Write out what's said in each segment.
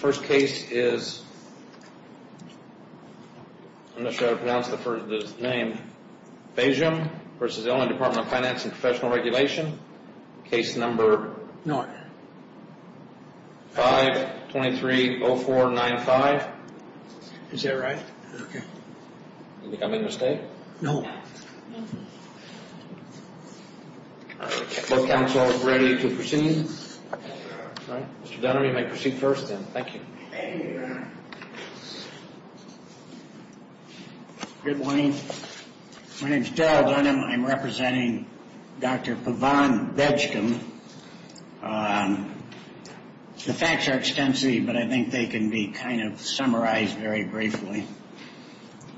First case is Bejgum v. Department of Financial & Professional Regulation, case number 5-230495. Is that right? Okay. Do you think I made a mistake? No. No. All right. Are both counsels ready to proceed? All right. Mr. Dunham, you may proceed first, then. Thank you. Good morning. My name is Darrell Dunham. I'm representing Dr. Pavan Bejgum. The facts are extensive, but I think they can be kind of summarized very briefly.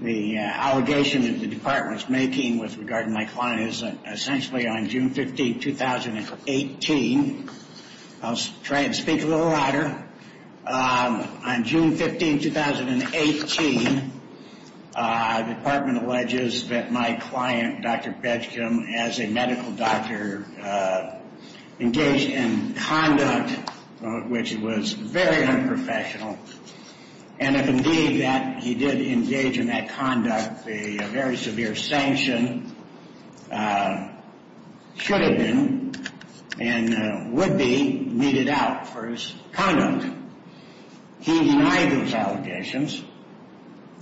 The allegation that the department is making with regard to my client is that essentially on June 15, 2018, I'll try and speak a little louder. On June 15, 2018, the department alleges that my client, Dr. Bejgum, as a medical doctor, engaged in conduct which was very unprofessional. And if indeed that he did engage in that conduct, a very severe sanction should have been and would be meted out for his conduct. He denied those allegations,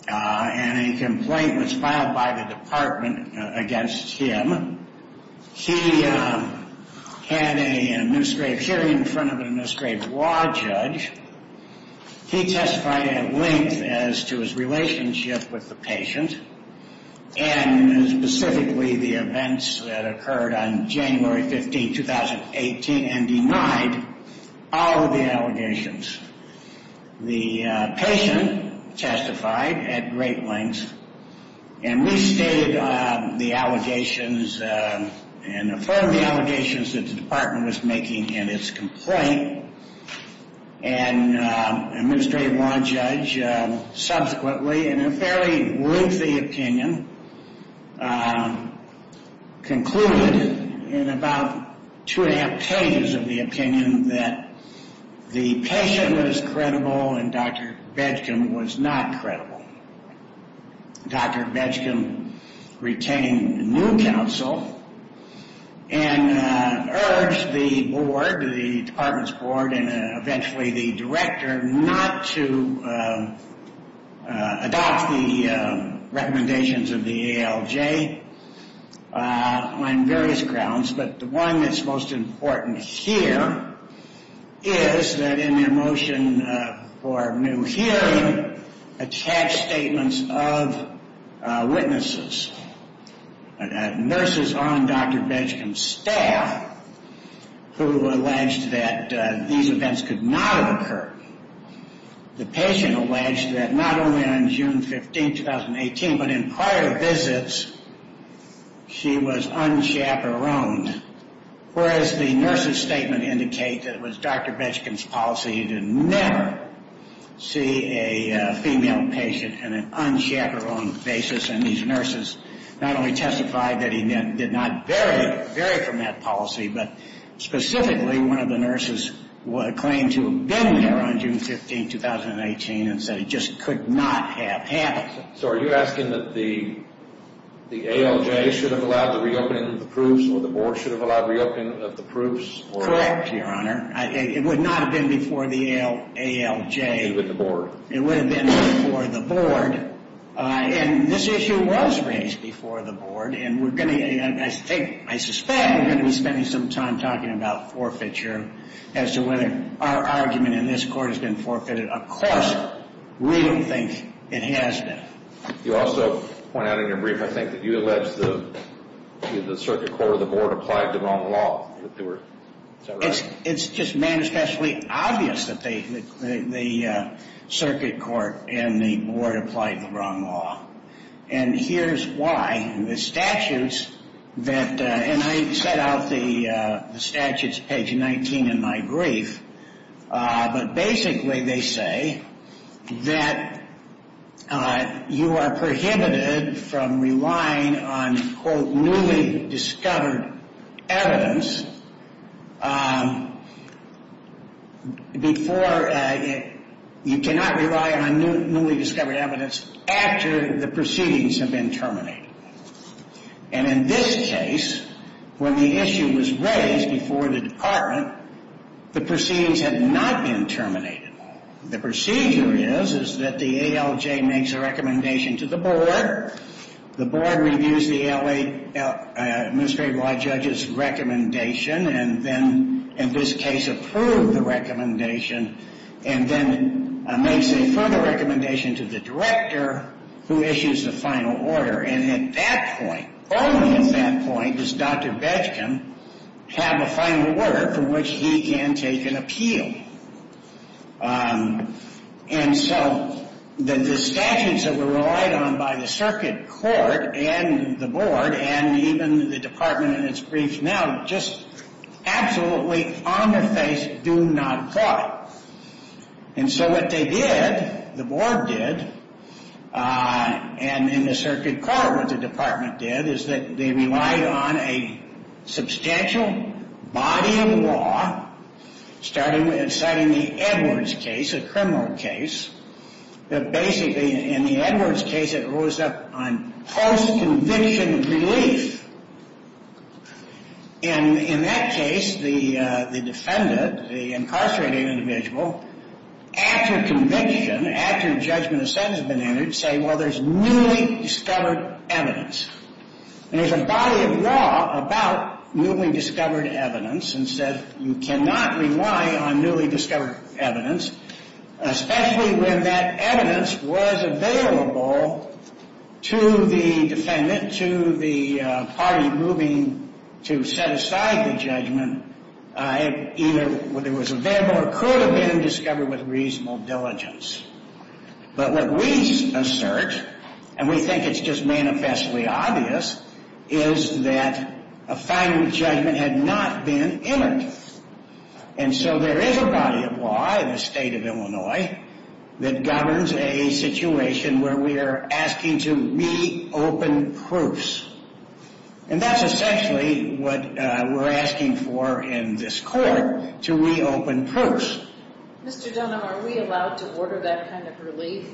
and a complaint was filed by the department against him. He had an administrative hearing in front of an administrative law judge. He testified at length as to his relationship with the patient and specifically the events that occurred on January 15, 2018, and denied all of the allegations. The patient testified at great length and restated the allegations and affirmed the allegations that the department was making in its complaint. And an administrative law judge subsequently, in a fairly lengthy opinion, concluded in about two and a half pages of the opinion that the patient was credible and Dr. Bejgum was not credible. Dr. Bejgum retained new counsel and urged the board, the department's board, and eventually the director, not to adopt the recommendations of the ALJ on various grounds. But the one that's most important here is that in their motion for new hearing, attached statements of witnesses, nurses on Dr. Bejgum's staff, who alleged that these events could not have occurred. The patient alleged that not only on June 15, 2018, but in prior visits, she was unchaperoned, whereas the nurse's statement indicates that it was Dr. Bejgum's policy to never see a female patient on an unchaperoned basis. And these nurses not only testified that he did not vary from that policy, but specifically, one of the nurses claimed to have been there on June 15, 2018, and said he just could not have happened. So are you asking that the ALJ should have allowed the reopening of the proofs, or the board should have allowed reopening of the proofs? Correct, Your Honor. It would not have been before the ALJ. It would have been before the board. And this issue was raised before the board, and I suspect we're going to be spending some time talking about forfeiture as to whether our argument in this court has been forfeited. Of course, we don't think it has been. You also point out in your brief, I think, that you allege the circuit court or the board applied the wrong law. Is that right? It's just manifestly obvious that the circuit court and the board applied the wrong law. And here's why. The statutes that – and I set out the statutes, page 19, in my brief. But basically, they say that you are prohibited from relying on, quote, newly discovered evidence before – you cannot rely on newly discovered evidence after the proceedings have been terminated. And in this case, when the issue was raised before the department, the proceedings had not been terminated. The procedure is, is that the ALJ makes a recommendation to the board. The board reviews the L.A. administrative law judge's recommendation and then, in this case, approved the recommendation and then makes a further recommendation to the director who issues the final order. And at that point, only at that point, does Dr. Betchkin have a final order from which he can take an appeal. And so the statutes that were relied on by the circuit court and the board and even the department in its briefs now just absolutely on their face do not apply. And so what they did, the board did, and in the circuit court what the department did, is that they relied on a substantial body of law, starting with – citing the Edwards case, a criminal case. But basically, in the Edwards case, it rose up on post-conviction relief. And in that case, the defendant, the incarcerating individual, after conviction, after judgment of sentence had been entered, say, well, there's newly discovered evidence. And there's a body of law about newly discovered evidence and said you cannot rely on newly discovered evidence, especially when that evidence was available to the defendant, to the party moving to set aside the judgment, either it was available or could have been discovered with reasonable diligence. But what we assert, and we think it's just manifestly obvious, is that a final judgment had not been entered. And so there is a body of law in the state of Illinois that governs a situation where we are asking to re-open proofs. And that's essentially what we're asking for in this court, to re-open proofs. Mr. Dunham, are we allowed to order that kind of relief?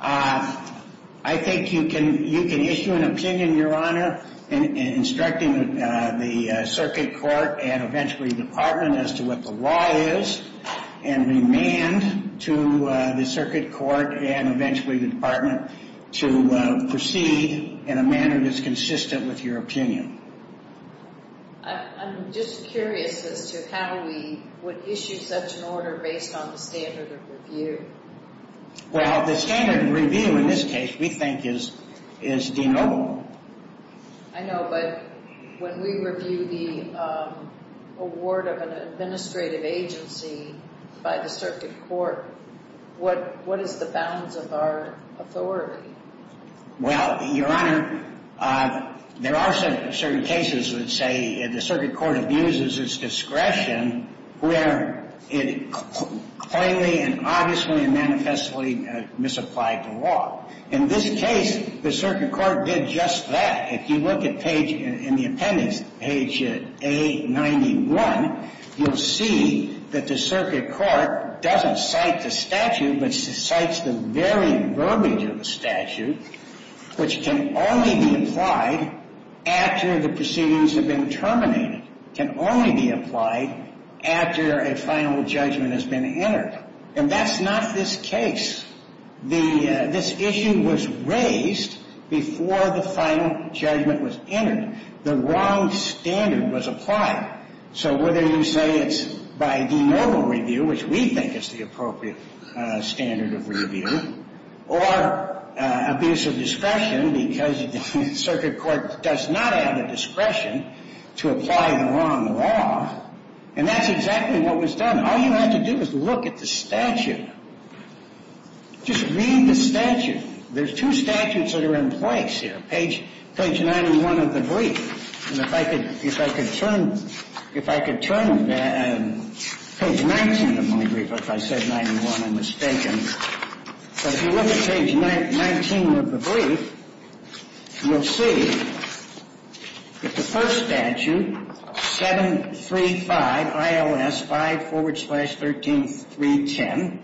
I think you can issue an opinion, Your Honor, instructing the circuit court and eventually the department as to what the law is, and remand to the circuit court and eventually the department to proceed in a manner that's consistent with your opinion. I'm just curious as to how we would issue such an order based on the standard of review. Well, the standard of review in this case, we think, is denotable. I know, but when we review the award of an administrative agency by the circuit court, what is the bounds of our authority? Well, Your Honor, there are certain cases that say the circuit court abuses its discretion where it plainly and obviously and manifestly misapplied the law. In this case, the circuit court did just that. If you look at page – in the appendix, page A91, you'll see that the circuit court doesn't cite the statute but cites the very verbiage of the statute, which can only be applied after the proceedings have been terminated, can only be applied after a final judgment has been entered. And that's not this case. This issue was raised before the final judgment was entered. The wrong standard was applied. So whether you say it's by denotable review, which we think is the appropriate standard of review, or abuse of discretion because the circuit court does not have the discretion to apply the wrong law, and that's exactly what was done. All you have to do is look at the statute. Just read the statute. There's two statutes that are in place here, page – page 91 of the brief. And if I could – if I could turn – if I could turn page 19 of my brief, or if I said 91, I'm mistaken. So if you look at page 19 of the brief, you'll see that the first statute, 735 ILS 5 forward slash 13310,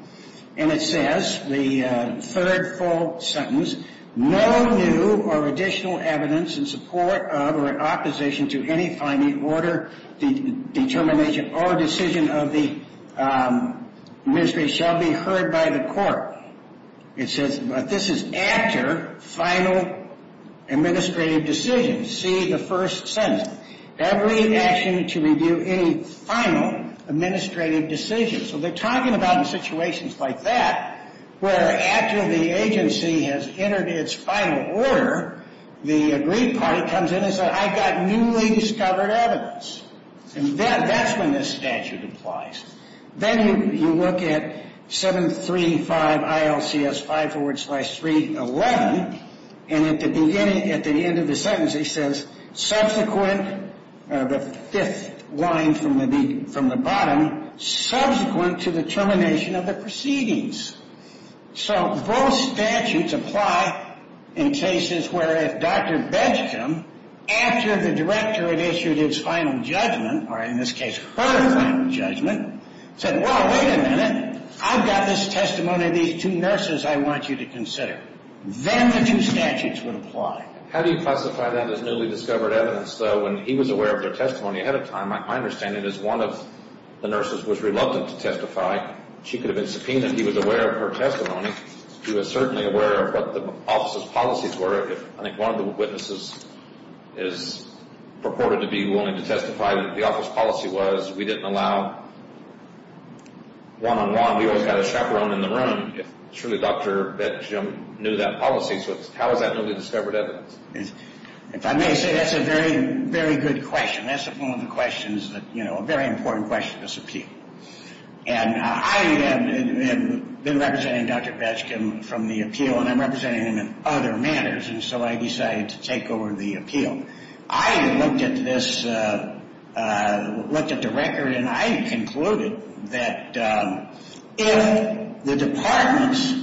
and it says, the third full sentence, it says, no new or additional evidence in support of or in opposition to any finding, order, determination, or decision of the ministry shall be heard by the court. It says – this is after final administrative decision. See the first sentence. Every action to review any final administrative decision. So they're talking about in situations like that where after the agency has entered its final order, the agreed party comes in and says, I've got newly discovered evidence. And that's when this statute applies. Then you look at 735 ILCS 5 forward slash 311, and at the beginning – at the end of the sentence, it says, subsequent – the fifth line from the bottom, subsequent to the termination of the proceedings. So both statutes apply in cases where if Dr. Bedgham, after the director had issued his final judgment, or in this case, her final judgment, said, well, wait a minute. I've got this testimony of these two nurses I want you to consider. Then the two statutes would apply. How do you classify that as newly discovered evidence, though, when he was aware of their testimony ahead of time? My understanding is one of the nurses was reluctant to testify. She could have been subpoenaed. He was aware of her testimony. He was certainly aware of what the office's policies were. I think one of the witnesses is purported to be willing to testify. The office policy was we didn't allow one-on-one. We always got a chaperone in the room if truly Dr. Bedgham knew that policy. So how is that newly discovered evidence? If I may say, that's a very, very good question. That's one of the questions that – you know, a very important question to subpoena. And I have been representing Dr. Bedgham from the appeal, and I'm representing him in other matters, and so I decided to take over the appeal. I looked at this – looked at the record, and I concluded that if the department's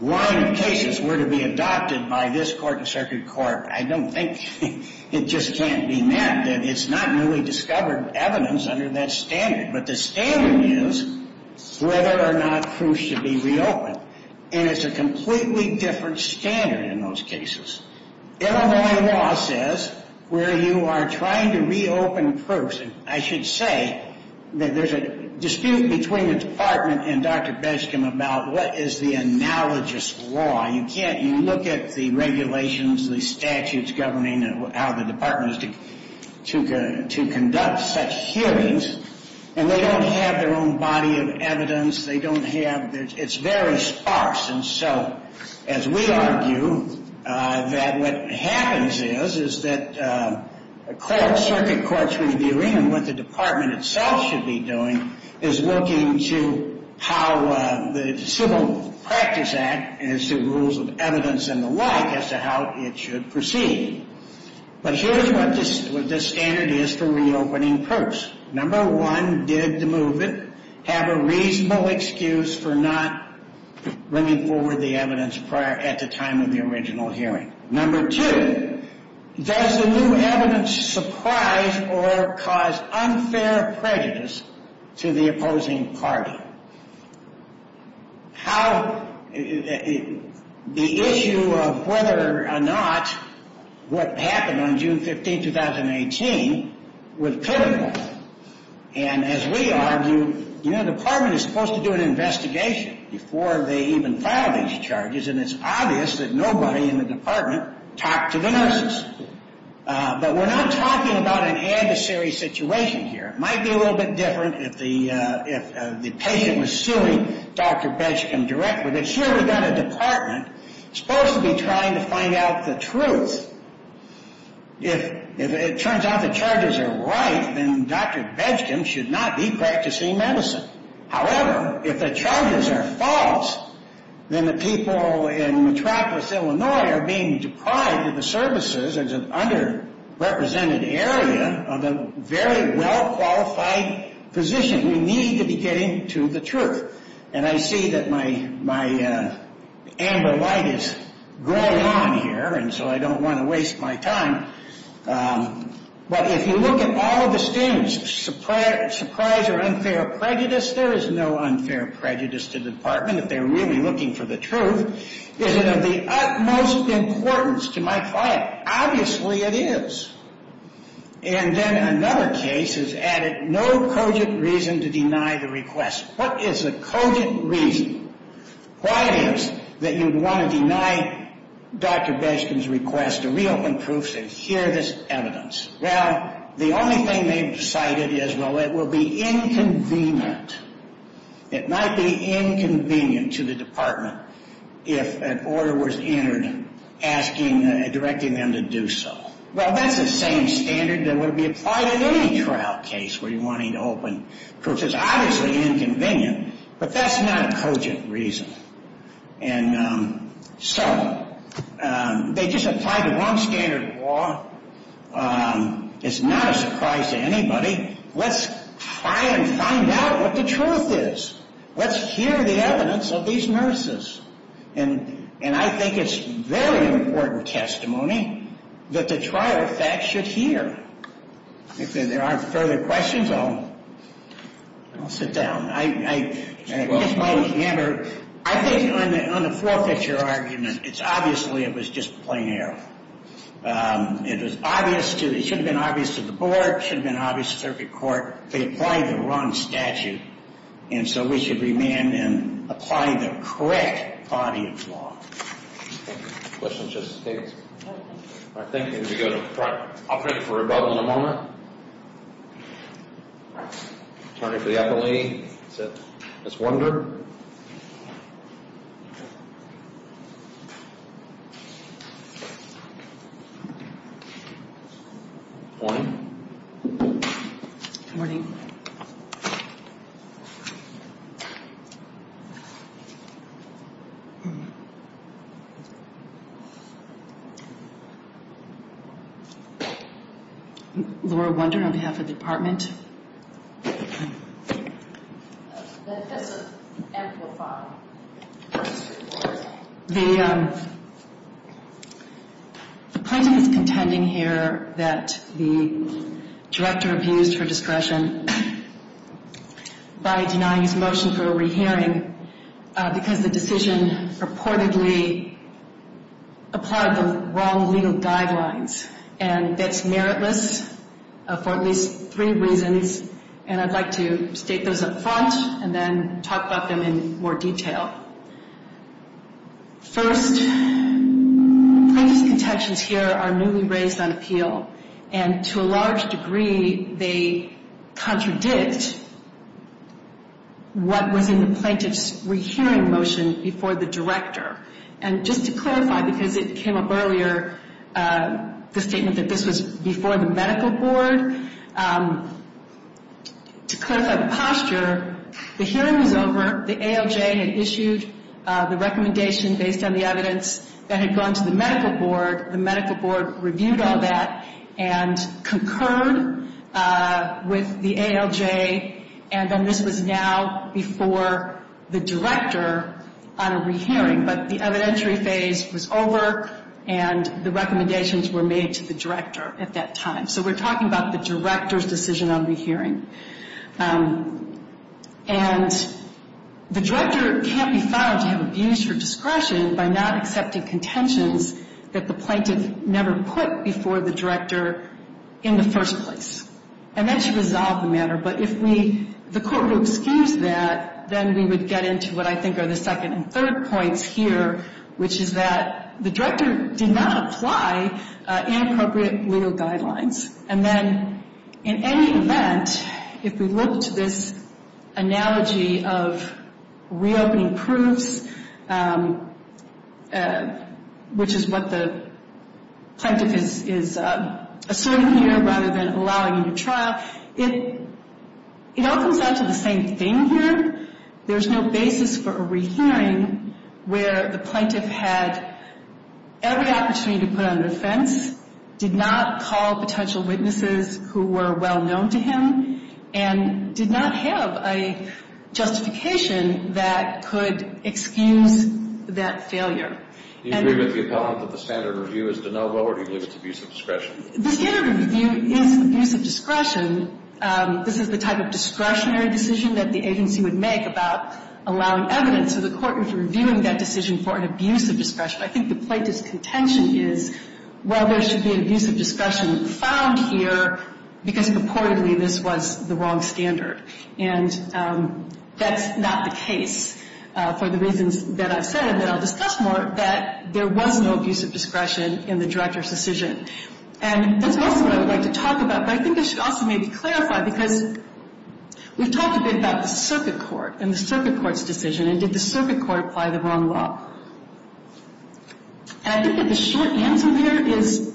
line of cases were to be adopted by this court and circuit court, I don't think it just can't be met, that it's not newly discovered evidence under that standard. But the standard is whether or not proofs should be reopened. And it's a completely different standard in those cases. Illinois law says where you are trying to reopen proofs – and I should say that there's a dispute between the department and Dr. Bedgham about what is the analogous law. You can't – you look at the regulations, the statutes governing how the department is to conduct such hearings, and they don't have their own body of evidence. They don't have – it's very sparse. And so as we argue that what happens is, is that a court – circuit court's reviewing and what the department itself should be doing is looking to how the Civil Practice Act and its rules of evidence and the like as to how it should proceed. But here's what this standard is for reopening proofs. Number one, did the movement have a reasonable excuse for not bringing forward the evidence prior – at the time of the original hearing? Number two, does the new evidence surprise or cause unfair prejudice to the opposing party? How – the issue of whether or not what happened on June 15, 2018, was critical. And as we argue, you know, the department is supposed to do an investigation before they even file these charges, and it's obvious that nobody in the department talked to the nurses. But we're not talking about an adversary situation here. It might be a little bit different if the patient was suing Dr. Bedgham directly. But here we've got a department supposed to be trying to find out the truth. If it turns out the charges are right, then Dr. Bedgham should not be practicing medicine. However, if the charges are false, then the people in Metropolis, Illinois, are being deprived of the services as an underrepresented area of a very well-qualified position. We need to be getting to the truth. And I see that my amber light is going on here, and so I don't want to waste my time. But if you look at all of the standards, surprise or unfair prejudice, there is no unfair prejudice to the department if they're really looking for the truth. Is it of the utmost importance to my client? Obviously it is. And then another case has added no cogent reason to deny the request. What is the cogent reason? Why is it that you'd want to deny Dr. Bedgham's request to reopen proofs and hear this evidence? Well, the only thing they've decided is, well, it will be inconvenient. It might be inconvenient to the department if an order was entered directing them to do so. Well, that's the same standard that would be applied in any trial case where you're wanting to open proofs. It's obviously inconvenient, but that's not a cogent reason. And so they just applied the wrong standard of law. It's not a surprise to anybody. I mean, let's try and find out what the truth is. Let's hear the evidence of these nurses. And I think it's very important testimony that the trial facts should hear. If there aren't further questions, I'll sit down. I think on the four-picture argument, it's obviously it was just plain error. It should have been obvious to the board. It should have been obvious to the circuit court. They applied the wrong statute. And so we should remand them, apply the correct body of law. Questions, Justice Davis? All right, thank you. Would you go to the front? I'll turn it for rebuttal in a moment. Attorney for the appellee, Ms. Wunder. Good morning. Good morning. Laura Wunder on behalf of the department. That doesn't amplify. The plaintiff is contending here that the director abused her discretion by denying his motion for a re-hearing because the decision purportedly applied the wrong legal guidelines. And that's meritless for at least three reasons. And I'd like to state those up front and then talk about them in more detail. First, plaintiff's contentions here are newly raised on appeal. And to a large degree, they contradict what was in the plaintiff's re-hearing motion before the director. And just to clarify, because it came up earlier, the statement that this was before the medical board, to clarify the posture, the hearing was over. The ALJ had issued the recommendation based on the evidence that had gone to the medical board. The medical board reviewed all that and concurred with the ALJ. And then this was now before the director on a re-hearing. But the evidentiary phase was over, and the recommendations were made to the director at that time. So we're talking about the director's decision on the hearing. And the director can't be found to have abused her discretion by not accepting contentions that the plaintiff never put before the director in the first place. And then she resolved the matter. But if the court would excuse that, then we would get into what I think are the second and third points here, which is that the director did not apply inappropriate legal guidelines. And then in any event, if we look to this analogy of reopening proofs, which is what the plaintiff is asserting here rather than allowing a new trial, it all comes down to the same thing here. There's no basis for a re-hearing where the plaintiff had every opportunity to put on defense, did not call potential witnesses who were well-known to him, and did not have a justification that could excuse that failure. Do you agree with the appellant that the standard review is de novo or do you believe it's abuse of discretion? The standard review is abuse of discretion. This is the type of discretionary decision that the agency would make about allowing evidence. So the court is reviewing that decision for an abuse of discretion. I think the plaintiff's contention is, well, there should be an abuse of discretion found here because purportedly this was the wrong standard. And that's not the case for the reasons that I've said and that I'll discuss more, that there was no abuse of discretion in the director's decision. And that's also what I would like to talk about, but I think it should also maybe clarify because we've talked a bit about the circuit court and the circuit court's decision, and did the circuit court apply the wrong law. And I think that the short answer here is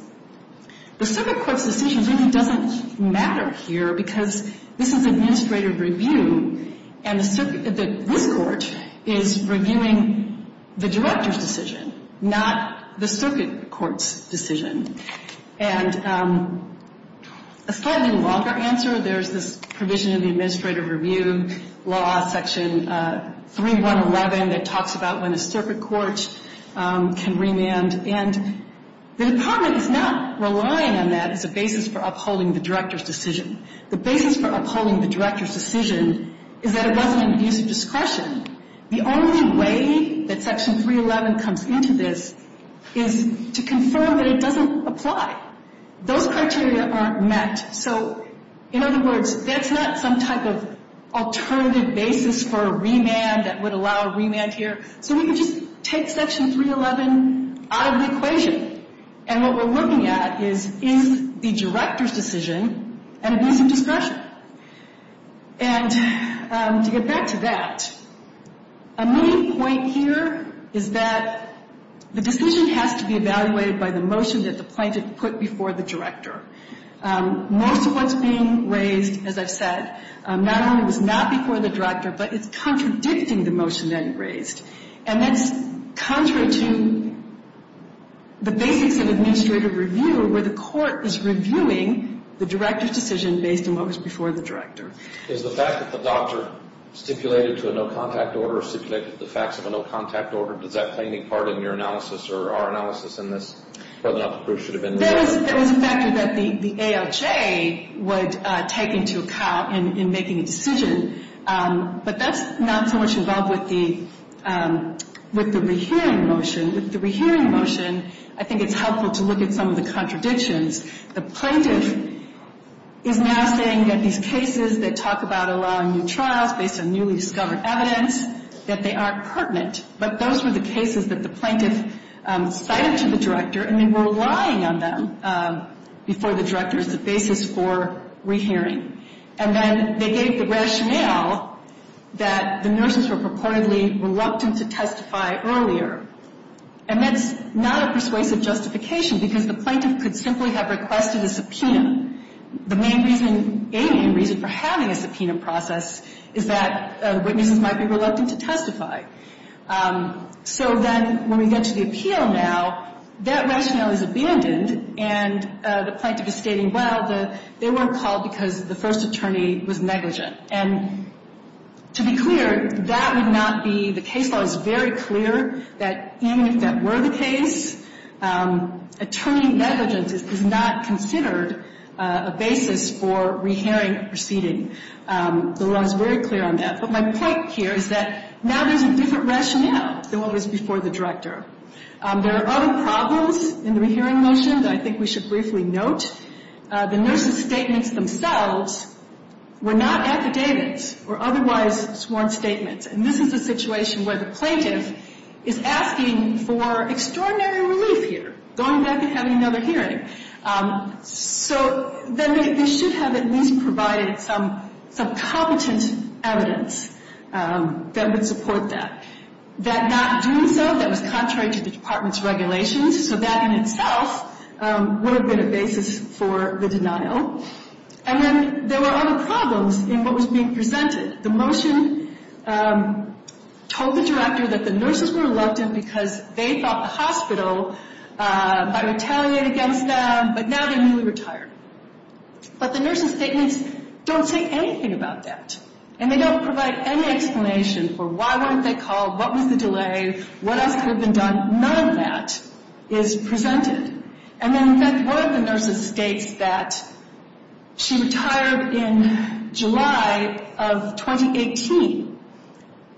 the circuit court's decision really doesn't matter here because this is administrative review and the circuit – this court is reviewing the director's decision, not the circuit court's decision. And a slightly longer answer, there's this provision in the administrative review law, section 3111, that talks about when a circuit court can remand. And the department is not relying on that as a basis for upholding the director's decision. The basis for upholding the director's decision is that it wasn't an abuse of discretion. The only way that section 311 comes into this is to confirm that it doesn't apply. Those criteria aren't met. So, in other words, that's not some type of alternative basis for a remand that would allow a remand here. So we can just take section 311 out of the equation. And what we're looking at is, is the director's decision an abuse of discretion? And to get back to that, a main point here is that the decision has to be evaluated by the motion that the plaintiff put before the director. Most of what's being raised, as I've said, not only was not before the director, but it's contradicting the motion that he raised. And that's contrary to the basics of administrative review, where the court is reviewing the director's decision based on what was before the director. Is the fact that the doctor stipulated to a no-contact order or stipulated to the facts of a no-contact order, does that play any part in your analysis or our analysis in this, whether or not the proof should have been removed? That was a factor that the ALJ would take into account in making a decision. But that's not so much involved with the rehearing motion. With the rehearing motion, I think it's helpful to look at some of the contradictions. The plaintiff is now saying that these cases that talk about allowing new trials based on newly discovered evidence, that they aren't pertinent. But those were the cases that the plaintiff cited to the director, and they were relying on them before the director as the basis for rehearing. And then they gave the rationale that the nurses were purportedly reluctant to testify earlier. And that's not a persuasive justification, because the plaintiff could simply have requested a subpoena. The main reason, alien reason, for having a subpoena process is that witnesses might be reluctant to testify. So then when we get to the appeal now, that rationale is abandoned, and the plaintiff is stating, well, they weren't called because the first attorney was negligent. And to be clear, that would not be the case. The law is very clear that even if that were the case, attorney negligence is not considered a basis for rehearing a proceeding. The law is very clear on that. But my point here is that now there's a different rationale than what was before the director. There are other problems in the rehearing motion that I think we should briefly note. The nurses' statements themselves were not affidavits or otherwise sworn statements. And this is a situation where the plaintiff is asking for extraordinary relief here, going back and having another hearing. So then they should have at least provided some competent evidence that would support that. That not doing so, that was contrary to the department's regulations, so that in itself would have been a basis for the denial. And then there were other problems in what was being presented. The motion told the director that the nurses were reluctant because they thought the hospital might retaliate against them, but now they're newly retired. But the nurses' statements don't say anything about that. And they don't provide any explanation for why weren't they called, what was the delay, what else could have been done. None of that is presented. And then, in fact, one of the nurses states that she retired in July of 2018,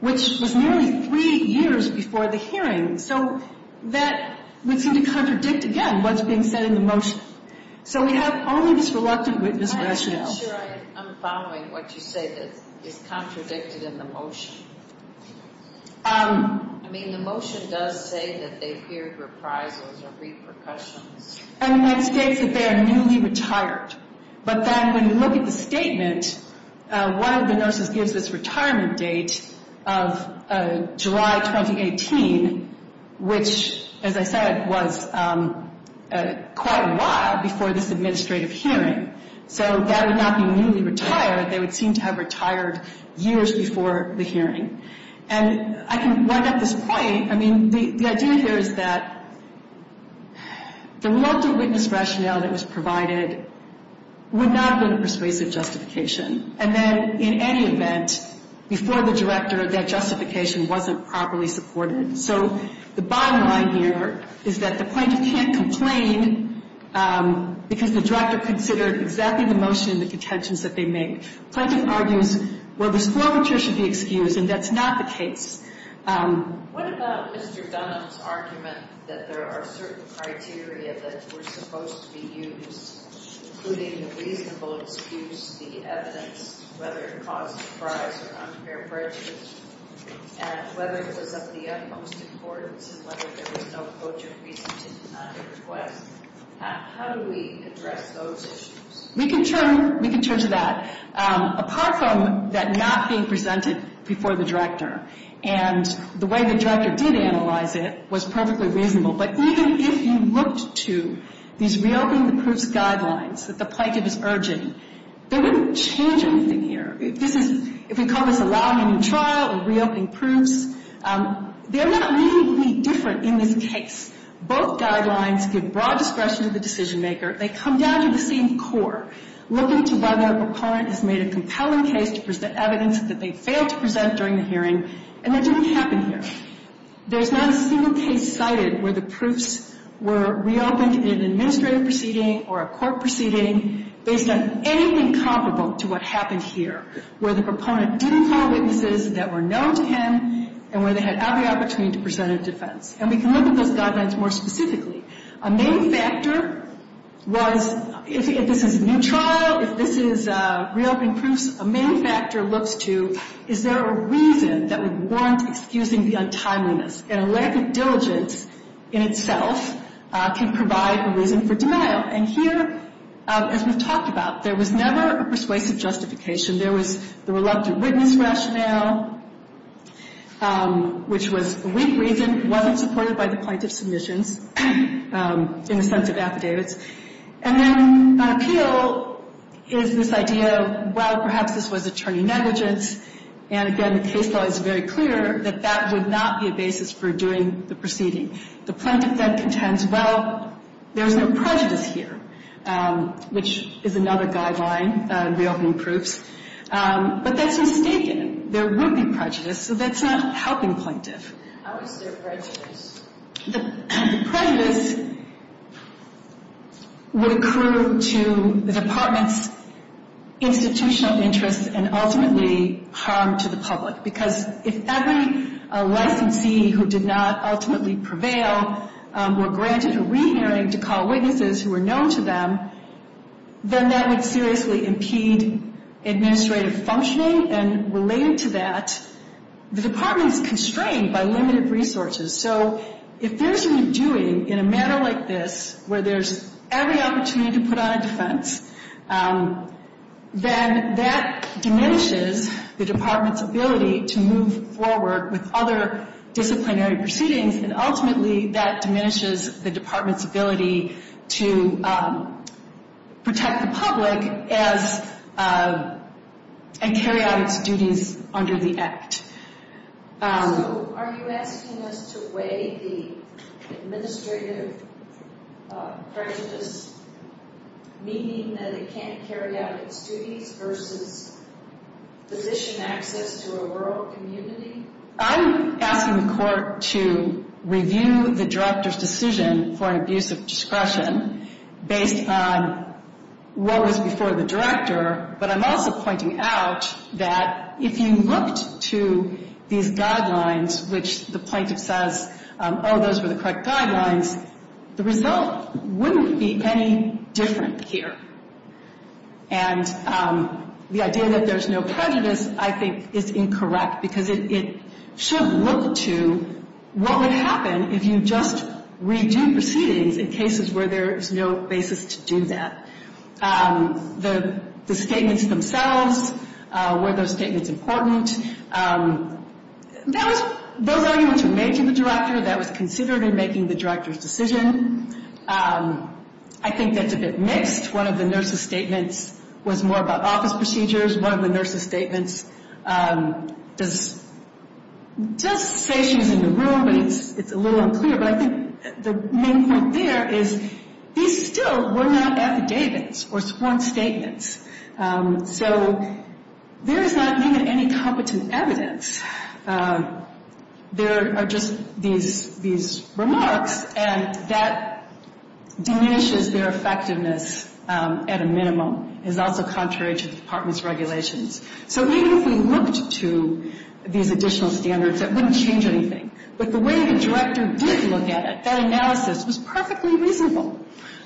which was nearly three years before the hearing. So that would seem to contradict, again, what's being said in the motion. So we have only this reluctant witness rationale. I'm not sure I'm following what you say that is contradicted in the motion. I mean, the motion does say that they've heard reprisals or repercussions. And that states that they are newly retired. But then when you look at the statement, one of the nurses gives this retirement date of July 2018, which, as I said, was quite a while before this administrative hearing. So that would not be newly retired. They would seem to have retired years before the hearing. And I can wind up this point. I mean, the idea here is that the reluctant witness rationale that was provided would not have been a persuasive justification. And then, in any event, before the director, that justification wasn't properly supported. So the bottom line here is that the plaintiff can't complain because the director considered exactly the motion and the contentions that they made. The plaintiff argues, well, this formature should be excused, and that's not the case. What about Mr. Dunham's argument that there are certain criteria that were supposed to be used, including the reasonable excuse, the evidence, whether it caused surprise or unfair prejudice, and whether it was of the utmost importance and whether there was no coach of reason to deny the request? How do we address those issues? We can turn to that. Apart from that not being presented before the director and the way the director did analyze it was perfectly reasonable, but even if you looked to these reopening the proofs guidelines that the plaintiff is urging, they wouldn't change anything here. If we call this allowing a new trial or reopening proofs, they're not really any different in this case. Both guidelines give broad discretion to the decision maker. They come down to the same core, looking to whether a client has made a compelling case to present evidence that they failed to present during the hearing, and that didn't happen here. There's not a single case cited where the proofs were reopened in an administrative proceeding or a court proceeding based on anything comparable to what happened here, where the proponent didn't call witnesses that were known to him and where they had every opportunity to present a defense. And we can look at those guidelines more specifically. A main factor was if this is a new trial, if this is reopening proofs, a main factor looks to is there a reason that would warrant excusing the untimeliness, and a lack of diligence in itself can provide a reason for denial. And here, as we've talked about, there was never a persuasive justification. There was the reluctant witness rationale, which was a weak reason, wasn't supported by the plaintiff's submissions in the sense of affidavits. And then on appeal is this idea of, well, perhaps this was attorney negligence. And again, the case law is very clear that that would not be a basis for doing the proceeding. The plaintiff then contends, well, there's no prejudice here, which is another guideline in reopening proofs. But that's mistaken. There would be prejudice, so that's not helping plaintiff. How is there prejudice? The prejudice would accrue to the department's institutional interests and ultimately harm to the public. Because if every licensee who did not ultimately prevail were granted a re-hearing to call witnesses who were known to them, then that would seriously impede administrative functioning. And related to that, the department is constrained by limited resources. So if there's a redoing in a matter like this, where there's every opportunity to put on a defense, then that diminishes the department's ability to move forward with other disciplinary proceedings. And ultimately, that diminishes the department's ability to protect the public and carry out its duties under the Act. So are you asking us to weigh the administrative prejudice, meaning that it can't carry out its duties, versus physician access to a rural community? I'm asking the court to review the director's decision for an abuse of discretion based on what was before the director. But I'm also pointing out that if you looked to these guidelines, which the plaintiff says, oh, those were the correct guidelines, the result wouldn't be any different here. And the idea that there's no prejudice, I think, is incorrect, because it should look to what would happen if you just redo proceedings in cases where there is no basis to do that. The statements themselves, were those statements important? Those arguments were made to the director. That was considered in making the director's decision. I think that's a bit mixed. One of the nurse's statements was more about office procedures. One of the nurse's statements does say she's in the room, but it's a little unclear. But I think the main point there is these still were not affidavits or sworn statements. So there is not even any competent evidence. There are just these remarks, and that diminishes their effectiveness at a minimum. It's also contrary to the department's regulations. So even if we looked to these additional standards, it wouldn't change anything. But the way the director did look at it, that analysis was perfectly reasonable.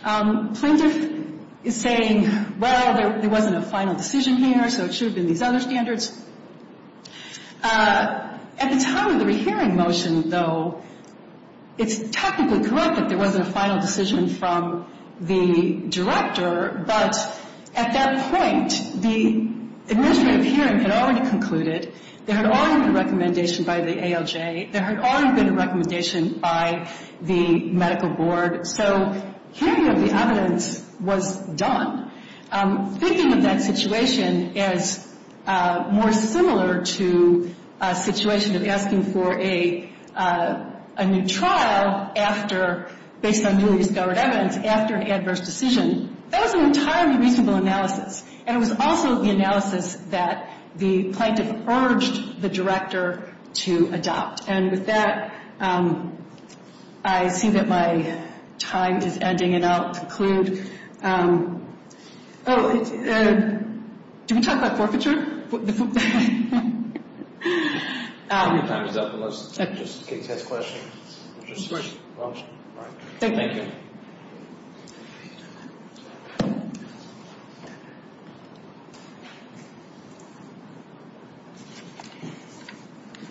Plaintiff is saying, well, there wasn't a final decision here, so it should have been these other standards. At the time of the rehearing motion, though, it's technically correct that there wasn't a final decision from the director. But at that point, the administrative hearing had already concluded. There had already been a recommendation by the ALJ. There had already been a recommendation by the medical board. So hearing of the evidence was done. Thinking of that situation as more similar to a situation of asking for a new trial after, based on newly discovered evidence, after an adverse decision, that was an entirely reasonable analysis. And it was also the analysis that the plaintiff urged the director to adopt. And with that, I see that my time is ending, and I'll conclude. Did we talk about forfeiture? Your time is up. Let's just get to questions. Thank you.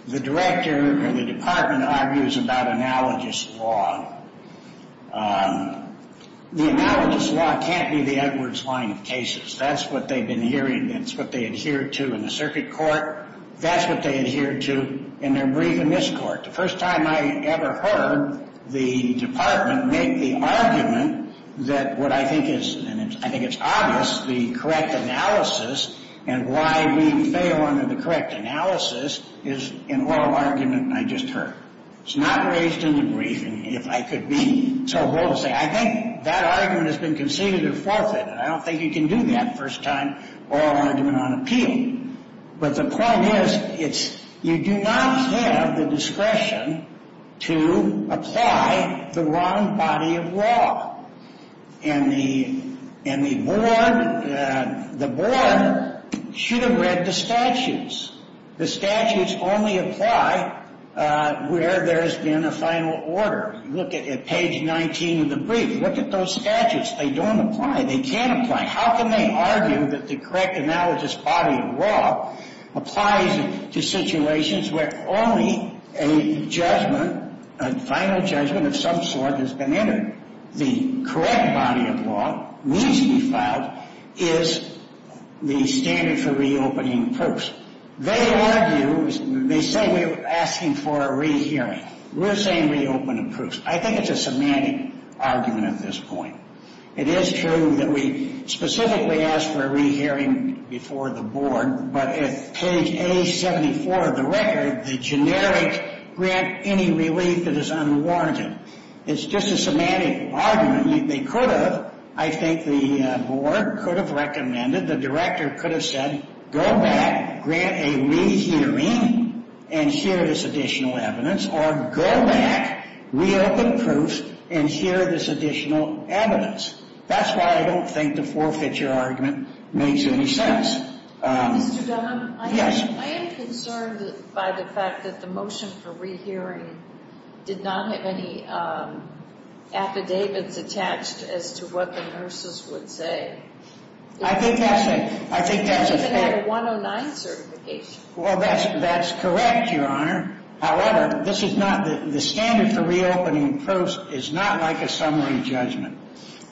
The director or the department argues about analogous law. The analogous law can't be the Edwards line of cases. That's what they've been hearing, and it's what they adhere to in the circuit court. That's what they adhere to in their brief in this court. The first time I ever heard the department make the argument that what I think is, and I think it's obvious, the correct analysis and why we fail under the correct analysis is an oral argument I just heard. It's not raised in the briefing, if I could be so bold as to say. I think that argument has been conceded a forfeit, and I don't think you can do that the first time, oral argument on appeal. But the point is, you do not have the discretion to apply the wrong body of law. And the board should have read the statutes. The statutes only apply where there's been a final order. Look at page 19 of the brief. Look at those statutes. They don't apply. They can't apply. How can they argue that the correct analysis body of law applies to situations where only a judgment, a final judgment of some sort has been entered? The correct body of law needs to be filed is the standard for reopening a person. They argue, they say we're asking for a rehearing. We're saying reopen approves. I think it's a semantic argument at this point. It is true that we specifically ask for a rehearing before the board, but at page A74 of the record, the generic grant any relief that is unwarranted, it's just a semantic argument. They could have, I think the board could have recommended, the director could have said, go back, grant a rehearing, and hear this additional evidence, or go back, reopen approves, and hear this additional evidence. That's why I don't think the forfeiture argument makes any sense. Mr. Dunham? Yes. I am concerned by the fact that the motion for rehearing did not have any affidavits attached as to what the nurses would say. I think that's a fact. It doesn't even have a 109 certification. Well, that's correct, Your Honor. However, this is not the standard for reopening approves is not like a summary judgment.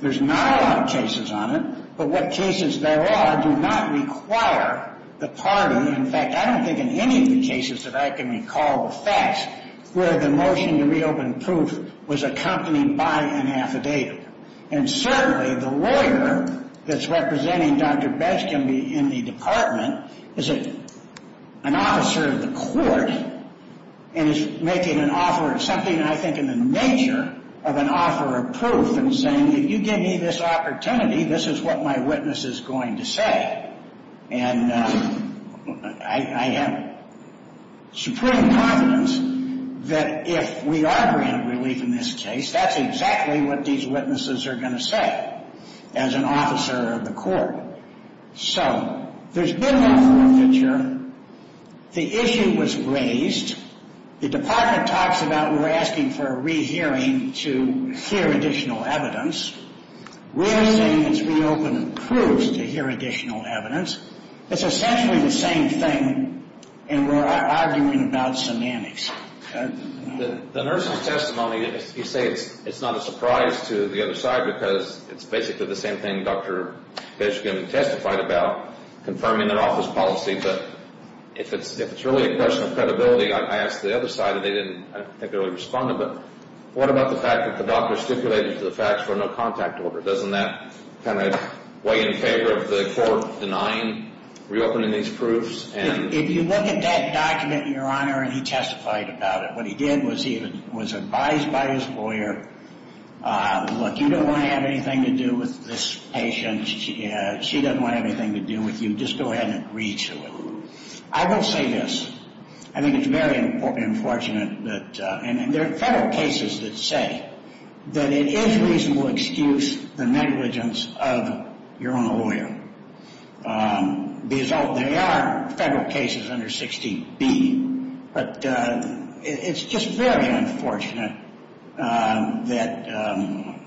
There's not a lot of cases on it, but what cases there are do not require the party. In fact, I don't think in any of the cases that I can recall the facts where the motion to reopen approves was accompanied by an affidavit. And certainly, the lawyer that's representing Dr. Benskin in the department is an officer of the court and is making an offer of something I think in the nature of an offer of proof and saying, if you give me this opportunity, this is what my witness is going to say. And I have supreme confidence that if we are granted relief in this case, that's exactly what these witnesses are going to say as an officer of the court. So there's been an offer of feature. The issue was raised. The department talks about we're asking for a rehearing to hear additional evidence. We're saying it's reopened approves to hear additional evidence. It's essentially the same thing, and we're arguing about semantics. The nurse's testimony, you say it's not a surprise to the other side because it's basically the same thing Dr. Benskin testified about, confirming their office policy. But if it's really a question of credibility, I asked the other side, and they didn't particularly respond to it. What about the fact that the doctor stipulated to the facts for no contact order? Doesn't that kind of weigh in favor of the court denying reopening these proofs? If you look at that document, Your Honor, and he testified about it, what he did was he was advised by his lawyer, look, you don't want to have anything to do with this patient. She doesn't want to have anything to do with you. Just go ahead and agree to it. I will say this. I think it's very unfortunate, and there are federal cases that say that it is reasonable excuse the negligence of your own lawyer. They are federal cases under 16B, but it's just very unfortunate that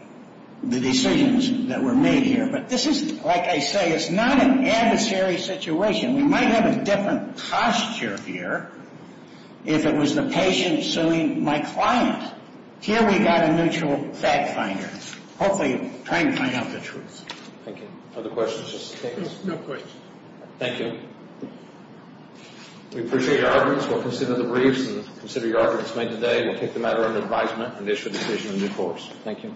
the decisions that were made here. But this is, like I say, it's not an adversary situation. We might have a different posture here if it was the patient suing my client. Here we've got a neutral fact finder, hopefully trying to find out the truth. Thank you. Other questions? No questions. Thank you. We appreciate your arguments. We'll consider the briefs and consider your arguments made today. We'll take the matter under advisement and issue a decision in due course. Thank you.